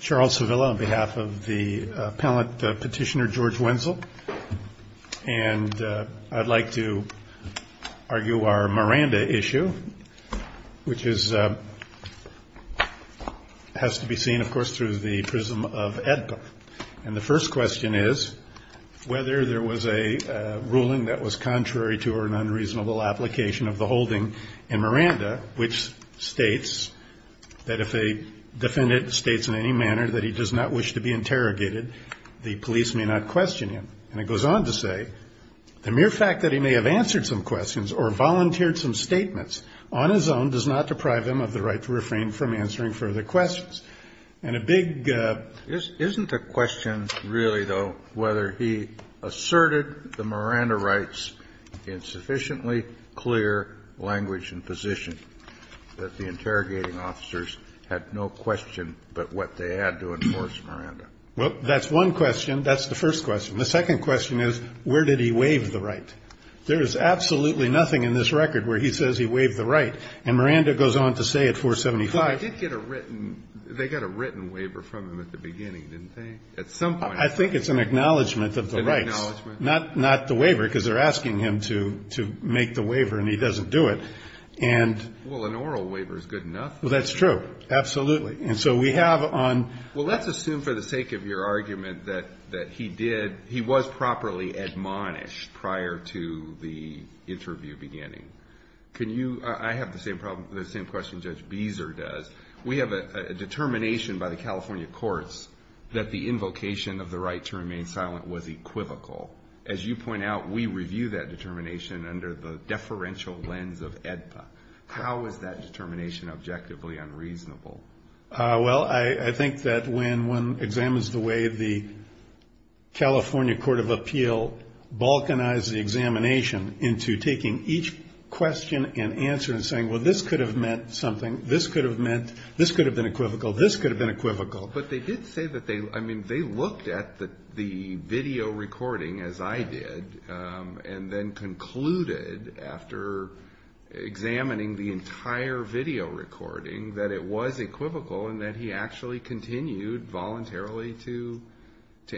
Charles Sevilla on behalf of the Petitioner George Wenzel and I'd like to argue our Miranda issue which has to be seen of course through the prism of EDPA. And the first question is whether there was a ruling that was contrary to or an unreasonable application of the holding in Miranda which states that if a defendant states in any manner that he does not wish to be interrogated, the police may not question him. And it goes on to say, the mere fact that he may have answered some questions or volunteered some statements on his own does not deprive him of the right to refrain from answering further questions. And a big Kennedy. Kennedy. Isn't the question really, though, whether he asserted the Miranda rights in language and position, that the interrogating officers had no question but what they had to enforce Miranda? Well, that's one question. That's the first question. The second question is, where did he waive the right? There is absolutely nothing in this record where he says he waived the right. And Miranda goes on to say at 475 Well, I did get a written, they got a written waiver from him at the beginning, didn't they? At some point I think it's an acknowledgment of the rights An acknowledgment Not the waiver, because they're asking him to make the waiver and he doesn't do it. And Well, an oral waiver is good enough. Well, that's true. Absolutely. And so we have on Well, let's assume for the sake of your argument that he did, he was properly admonished prior to the interview beginning. Can you, I have the same problem, the same question Judge Beezer does. We have a determination by the California courts that the invocation of the right to remain silent was equivocal. As you point out, we review that determination under the deferential lens of AEDPA. How is that determination objectively unreasonable? Well, I think that when one examines the way the California Court of Appeal balkanized the examination into taking each question and answer and saying, well, this could have meant something, this could have meant, this could have been equivocal, this could have been equivocal But they did say that they, I mean, they looked at the video recording as I did and then concluded after examining the entire video recording that it was equivocal and that he actually continued voluntarily to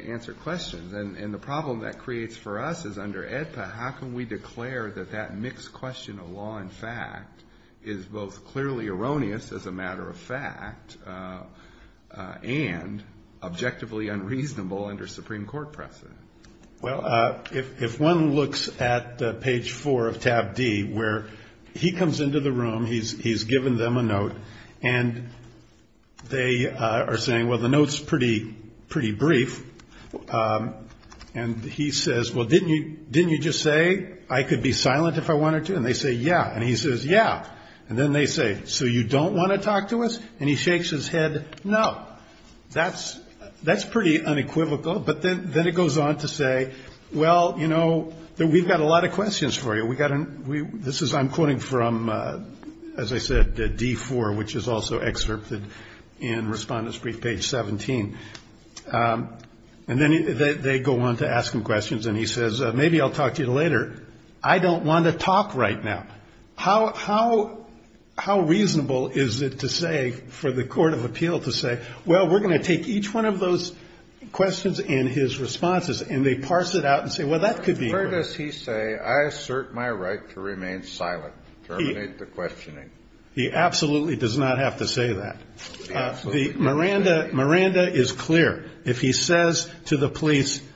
answer questions. And the problem that creates for us is under AEDPA, how can we declare that that mixed question of law and fact is both clearly erroneous as a matter of fact and objectively unreasonable under Supreme Court precedent? Well, if one looks at page four of tab D where he comes into the room, he's given them a note and they are saying, well, the note's pretty brief. And he says, well, didn't you just say I could be silent if I wanted to? And they say, yeah. And he says, yeah. And then they say, so you don't want to talk to us? And he shakes his head, no. That's pretty unequivocal. But then it goes on to say, well, you know, we've got a lot of questions for you. We've got to, this is, I'm quoting from, as I said, D4, which is also excerpted in Respondent's Brief, page 17. And then they go on to ask him questions. And he says, maybe I'll talk to you later. I don't want to talk right now. How reasonable is it to say, for the Court of Appeal to say, well, we're going to take each one of those questions and his responses. And they parse it out and say, well, that could be. Where does he say, I assert my right to remain silent, terminate the questioning? He absolutely does not have to say that. Miranda is clear. If he says to the police in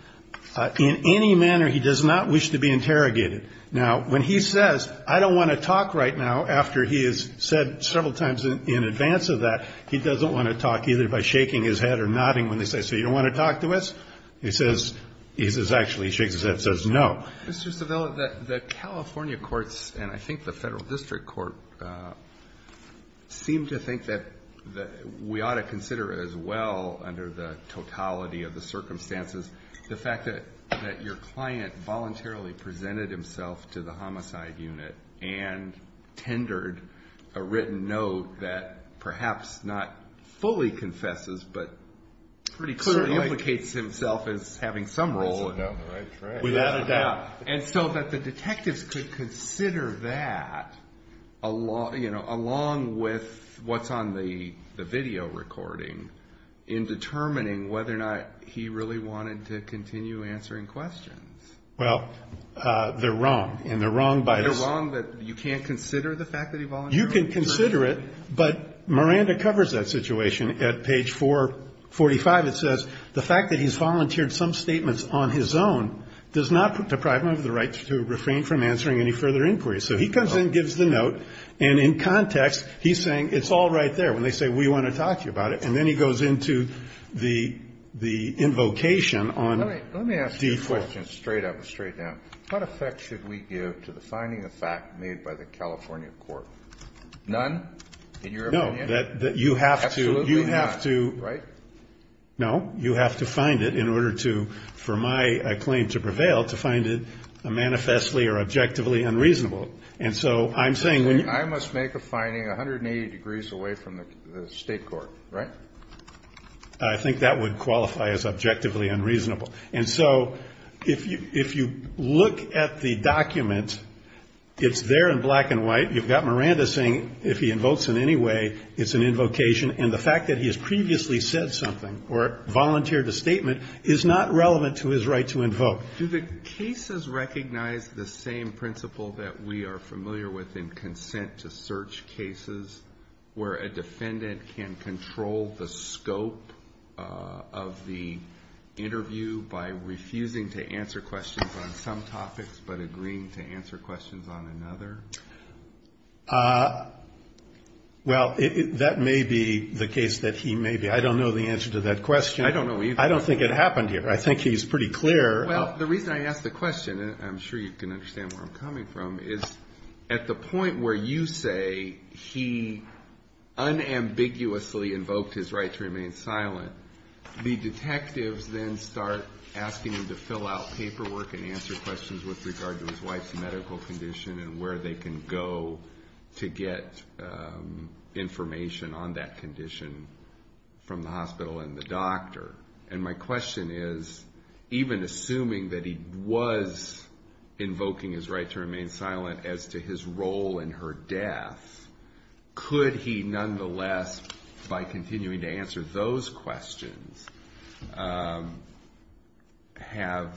any case, I do not wish to be interrogated. Now, when he says, I don't want to talk right now, after he has said several times in advance of that, he doesn't want to talk either by shaking his head or nodding when they say, so you don't want to talk to us? He says, he actually shakes his head and says no. Mr. Savella, the California courts and I think the Federal District Court seem to think that we ought to consider as well, under the totality of the circumstances, the fact that your client voluntarily presented himself to the homicide unit and tendered a written note that perhaps not fully confesses, but pretty clearly implicates himself as having some role in it. Without a doubt. And so that the detectives could consider that along with what's on the video recording in determining whether or not he really wanted to continue answering questions. Well, they're wrong. And they're wrong by this. They're wrong, but you can't consider the fact that he volunteered? You can consider it, but Miranda covers that situation. At page 445, it says, the fact that he's volunteered some statements on his own does not deprive him of the right to refrain from answering any further inquiries. So he comes in, gives the note, and in context, he's saying, it's all right there. When they say, we want to talk to you about it. And then he goes into the invocation on D4. I have a question straight up, straight down. What effect should we give to the finding of fact made by the California court? None, in your opinion? No, that you have to, you have to, no, you have to find it in order to, for my claim to prevail, to find it manifestly or objectively unreasonable. And so I'm saying when you I must make a finding 180 degrees away from the state court, right? I think that would qualify as objectively unreasonable. And so if you, if you look at the document, it's there in black and white. You've got Miranda saying, if he invokes in any way, it's an invocation. And the fact that he has previously said something or volunteered a statement is not relevant to his right to invoke. Do the cases recognize the same principle that we are familiar with in consent-to-search cases where a defendant can control the scope of the interview by refusing to answer questions on some topics but agreeing to answer questions on another? Well, that may be the case that he may be. I don't know the answer to that question. I don't know either. I don't think it happened here. I think he's pretty clear. Well, the reason I ask the question, and I'm sure you can understand where I'm coming from, is at the point where you say he unambiguously invoked his right to remain silent, the detectives then start asking him to fill out paperwork and answer questions with regard to his wife's medical condition and where they can go to get information on that condition from the hospital and the doctor. And my question is, even assuming that he was invoking his right to remain silent as to his role in her death, could he nonetheless, by continuing to answer those questions, have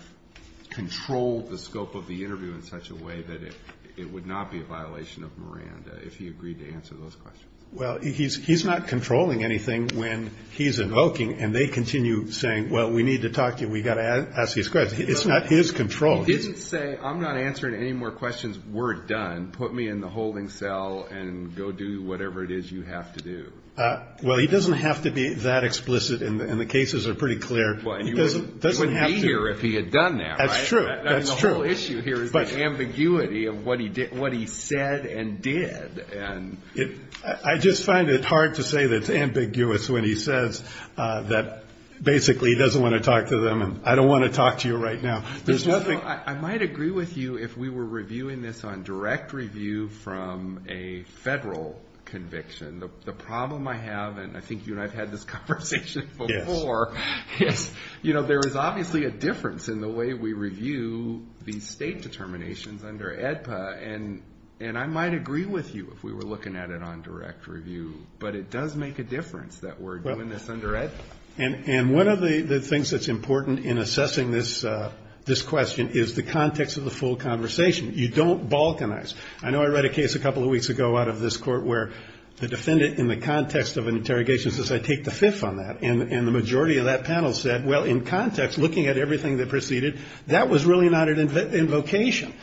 controlled the scope of the interview in such a way that it would not be a violation of Miranda if he agreed to answer those questions? Well, he's not controlling anything when he's invoking, and they continue saying, well, we need to talk to you. We've got to ask these questions. It's not his control. He didn't say, I'm not answering any more questions. We're done. Put me in the holding cell and go do whatever it is you have to do. Well, he doesn't have to be that explicit, and the cases are pretty clear. He wouldn't be here if he had done that, right? That's true. That's true. I mean, the whole issue here is the ambiguity of what he said and did. I just find it hard to say that it's ambiguous when he says that basically he doesn't want to talk to them, and I don't want to talk to you right now. I might agree with you if we were reviewing this on direct review from a federal conviction. The problem I have, and I think you and I have had this conversation before, is there is obviously a difference in the way we review these state determinations under AEDPA, and I might agree with you if we were looking at it on direct review, but it does make a difference that we're doing this under AEDPA. And one of the things that's important in assessing this question is the context of the full conversation. You don't balkanize. I know I read a case a couple of weeks ago out of this court where the defendant in the context of an interrogation says, I take the fifth on that, and the majority of that panel said, well, in context, looking at everything that preceded, that was really not an invocation.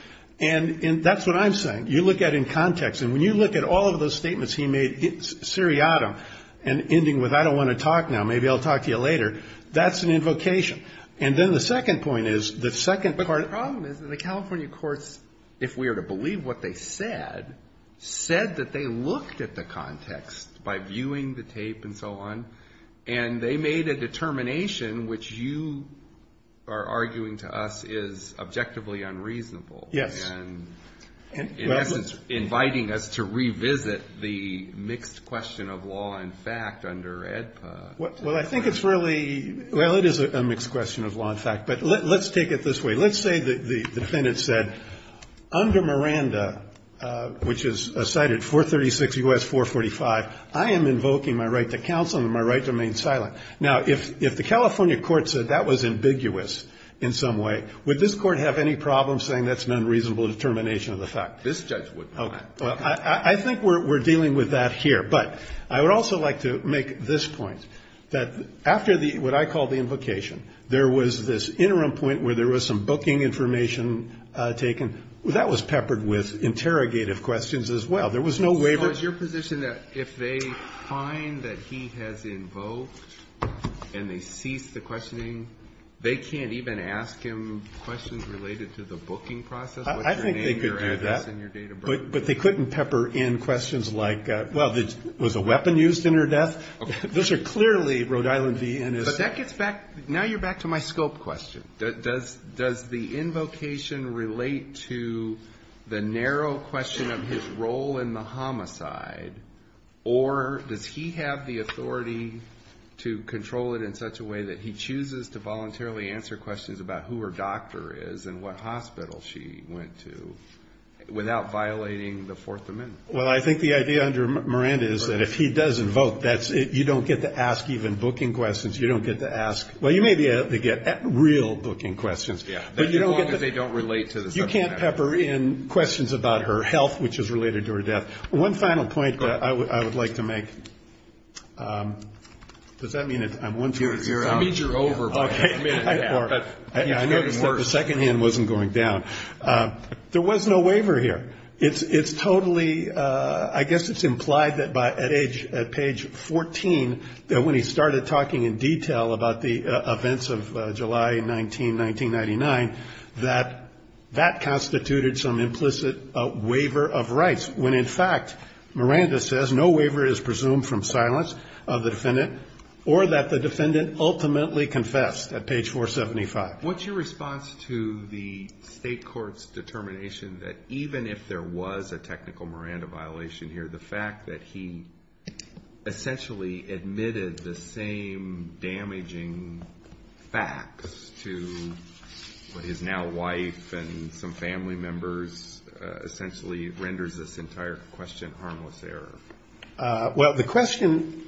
And that's what I'm saying. You look at in context, and when you look at all of those statements he made seriatim and ending with, I don't want to talk now, maybe I'll talk to you later, that's an invocation. And then the second point is, the second part of the problem is that the California courts, if we were to believe what they said, said that they looked at the context by viewing the tape and so on, and they made a determination which you are arguing to us is objectively unreasonable. Yes. And in essence, inviting us to revisit the mixed question of law and fact under AEDPA. Well, I think it's really, well, it is a mixed question of law and fact, but let's take it this way. Let's say the defendant said, under Miranda, which is cited 436 U.S. 445, I am invoking my right to counsel and my right to remain silent. Now, if the California court said that was ambiguous in some way, would this court have any problem saying that's an unreasonable determination of the fact? This judge would not. Okay. Well, I think we're dealing with that here. But I would also like to make this point, that after the, what I call the invocation, there was this interim point where there was some booking information taken. That was peppered with interrogative questions as well. There was no waiver. So it's your position that if they find that he has invoked and they cease the questioning, they can't even ask him questions related to the booking process? I think they could do that. But they couldn't pepper in questions like, well, was a weapon used in her death? Those are clearly Rhode Island DNS. But that gets back, now you're back to my scope question. Does the invocation relate to the narrow question of his role in the homicide? Or does he have the authority to control it in such a way that he chooses to voluntarily answer questions about who her doctor is and what hospital she went to without violating the Fourth Amendment? Well, I think the idea under Miranda is that if he does invoke, that's it. You don't get to ask even booking questions. You don't get to ask, well, you may be able to get real booking questions. Yeah. But you don't get to... As long as they don't relate to the subject. Yeah. You can't pepper in questions about her health, which is related to her death. One final point that I would like to make. Does that mean I'm one towards the end? I mean you're over, but you're committed to that. I noticed that the second hand wasn't going down. There was no waiver here. It's totally, I guess it's implied that at age, at page 14, that when he started talking in detail about the events of July 19, 1999, that that constituted some implicit waiver of rights. When in fact, Miranda says no waiver is presumed from silence of the defendant or that the defendant ultimately confessed at page 475. What's your response to the state court's determination that even if there was a technical Miranda violation here, the fact that he essentially admitted the same damaging facts to what his now wife and some family members essentially renders this entire question harmless error? Well the question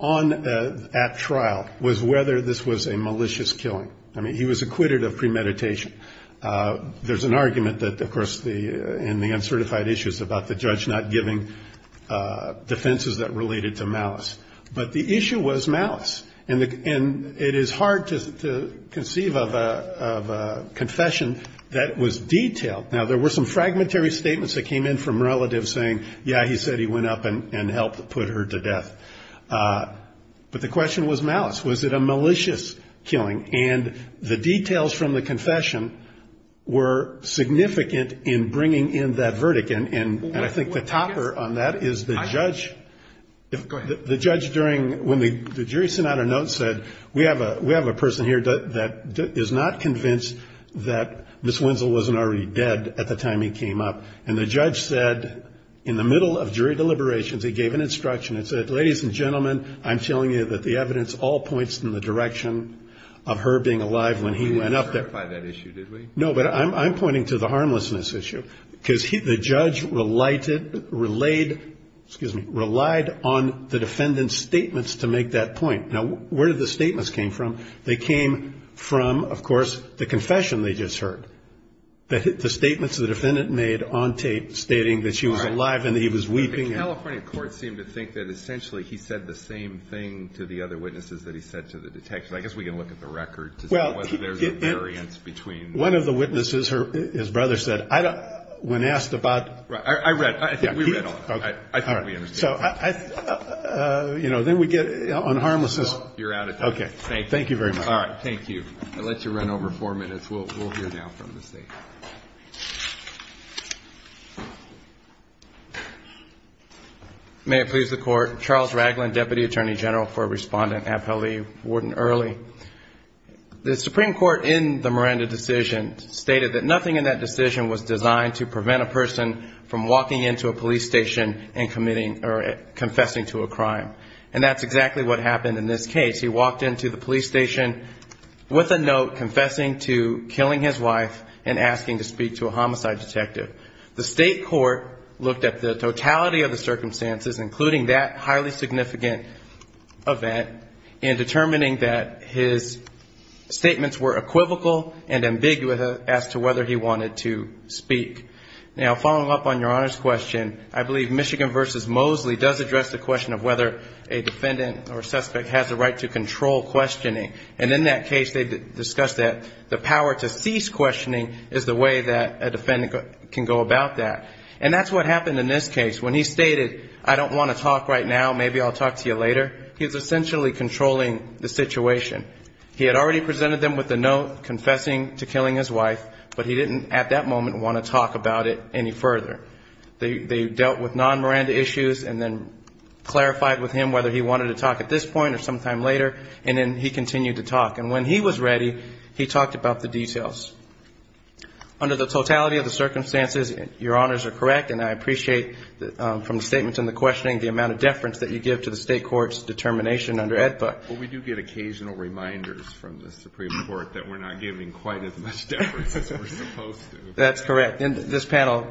at trial was whether this was a malicious killing. I mean he was acquitted of premeditation. There's an argument that of course in the uncertified issues about the judge not giving defenses that related to malice, but the issue was malice. It is hard to conceive of a confession that was detailed. Now there were some fragmentary statements that came in from relatives saying, yeah, he said he went up and helped put her to death. But the question was malice. Was it a malicious killing? And the details from the confession were significant in bringing in that verdict. And I think the topper on that is the judge. The judge during when the jury sent out a note said, we have a person here that is not convinced that Ms. Wenzel wasn't already dead at the time he came up. And the judge said in the middle of jury deliberations he gave an instruction. He said, ladies and gentlemen, I'm telling you that the evidence all points in the direction of her being alive when he went up there. You didn't clarify that issue, did we? No, but I'm pointing to the harmlessness issue. Because the judge relied on the defendant's statements to make that point. Now where did the statements came from? They came from of course the confession they just heard. The statements the defendant made on tape stating that she was alive and that he was weeping. The California court seemed to think that essentially he said the same thing to the other witnesses that he said to the detectives. I guess we can look at the record to see whether there's a variance between. One of the witnesses, his brother, said, when asked about. I read. I think we read all of it. I think we understand. You know, then we get on harmlessness. You're out of time. Thank you very much. All right. Thank you. I'll let you run over four minutes. We'll hear now from the state. May it please the court. Charles Ragland, Deputy Attorney General for Respondent at FLE Warden Early. The Supreme Court in the Miranda decision stated that nothing in that decision was designed to prevent a person from walking into a police station and confessing to a crime. And that's exactly what happened in this case. He walked into the police station with a note confessing to killing his wife and asking to speak to a homicide detective. The state court looked at the totality of the circumstances, including that highly significant event in determining that his statements were equivocal and ambiguous as to whether he wanted to speak. Now, following up on Your Honor's question, I believe Michigan v. Mosley does address the question of whether a defendant or suspect has a right to control questioning. And in that case, they discussed that the power to cease questioning is the way that a defendant can go about that. And that's what happened in this case. When he stated, I don't want to talk right now, maybe I'll talk to you later, he was essentially controlling the situation. He had already presented them with the note confessing to killing his wife, but he didn't at that moment want to talk about it any further. They dealt with non-Miranda issues and then clarified with him whether he wanted to talk at this point or sometime later, and then he continued to talk. And when he was ready, he talked about the details. Under the totality of the circumstances, Your Honors are correct, and I appreciate from the statements and the questioning the amount of deference that you give to the state court's determination under AEDPA. Well, we do get occasional reminders from the Supreme Court that we're not giving quite as much deference as we're supposed to. That's correct. And this panel,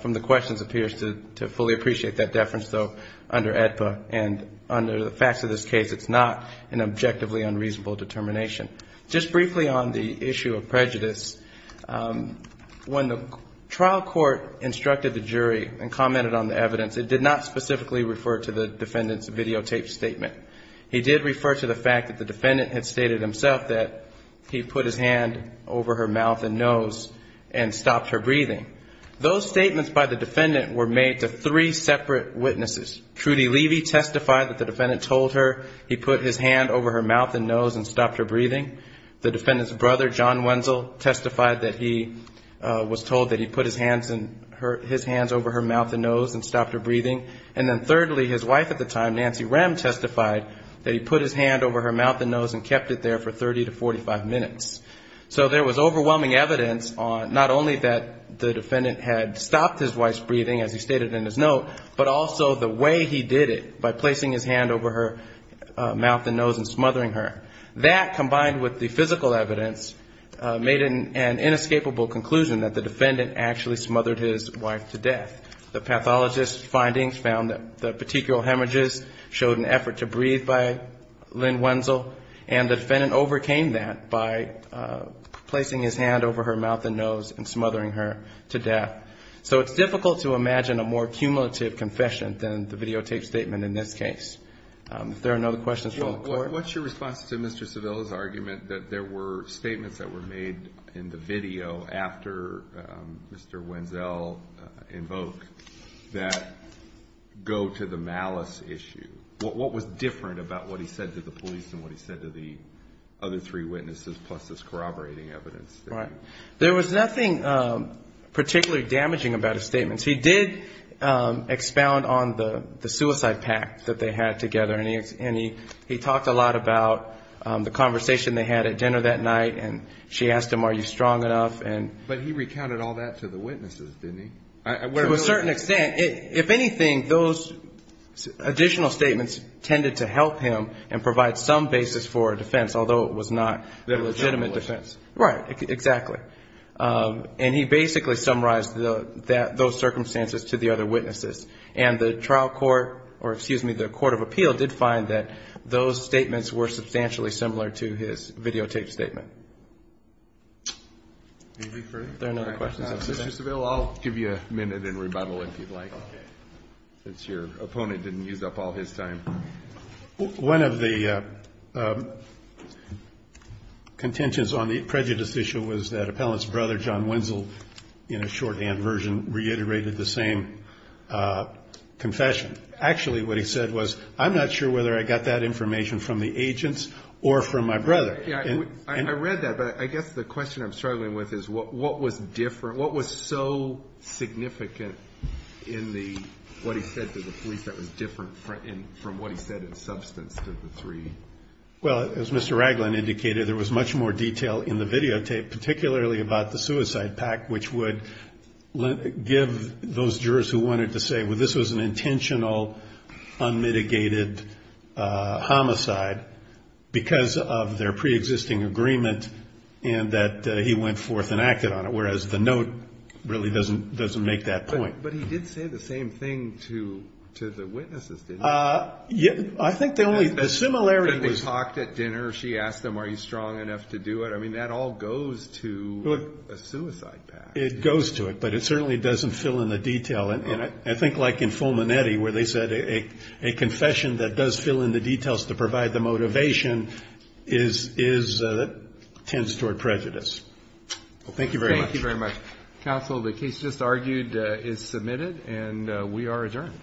from the questions, appears to fully appreciate that deference though, under AEDPA, and under the facts of this case, it's not an objectively unreasonable determination. Just briefly on the issue of prejudice, when the trial court instructed the jury and commented on the evidence, it did not specifically refer to the defendant's videotaped statement. He did refer to the fact that the defendant had stated himself that he put his hand over her mouth and nose and stopped her breathing. Those statements by the defendant were made to three separate witnesses. Trudy Levy testified that the defendant told her he put his hand over her mouth and nose and stopped her breathing. The defendant's brother, John Wenzel, testified that he was told that he put his hands over her mouth and nose and stopped her breathing. And then thirdly, his wife at the time, Nancy Rem, testified that he put his hand over her mouth and nose and kept it there for 30 to 45 minutes. So there was overwhelming evidence on not only that the defendant had stopped his wife's breathing in his note, but also the way he did it, by placing his hand over her mouth and nose and smothering her. That, combined with the physical evidence, made an inescapable conclusion that the defendant actually smothered his wife to death. The pathologist's findings found that the petechial hemorrhages showed an effort to breathe by Lynn Wenzel, and the defendant overcame that by placing his hand over her mouth and nose and smothering her to death. So it's difficult to imagine a more cumulative confession than the videotape statement in this case. If there are no other questions, we'll record. What's your response to Mr. Savilla's argument that there were statements that were made in the video after Mr. Wenzel invoked that go to the malice issue? What was different about what he said to the police and what he said to the other three witnesses, plus this corroborating evidence? There was nothing particularly damaging about his statements. He did expound on the suicide pact that they had together, and he talked a lot about the conversation they had at dinner that night, and she asked him, are you strong enough? But he recounted all that to the witnesses, didn't he? To a certain extent. If anything, those additional statements tended to help him and provide some basis for a defense, although it was not a legitimate defense. Right, exactly. And he basically summarized those circumstances to the other witnesses. And the trial court, or excuse me, the court of appeal did find that those statements were substantially similar to his videotape statement. Are there any other questions? Mr. Savilla, I'll give you a minute in rebuttal if you'd like, since your opponent didn't use up all his time. One of the contentions on the prejudice issue was that appellant's brother, John Wenzel, in a shorthand version, reiterated the same confession. Actually, what he said was, I'm not sure whether I got that information from the agents or from my brother. I read that, but I guess the question I'm struggling with is what was different, what was so significant in what he said to the police that was different from what he said in substance to the three? Well, as Mr. Ragland indicated, there was much more detail in the videotape, particularly about the suicide pact, which would give those jurors who wanted to say, well, this was an intentional, unmitigated homicide because of their preexisting agreement and that he went forth and acted on it, whereas the note really doesn't make that point. But he did say the same thing to the witnesses, didn't he? I think the only similarity was... They talked at dinner. She asked them, are you strong enough to do it? I mean, that all goes to a suicide pact. It goes to it, but it certainly doesn't fill in the detail. And I think like in Fulminetti, where they said a confession that does fill in the details to provide the motivation tends toward prejudice. Well, thank you very much. Thank you very much. Counsel, the case just argued is submitted and we are adjourned.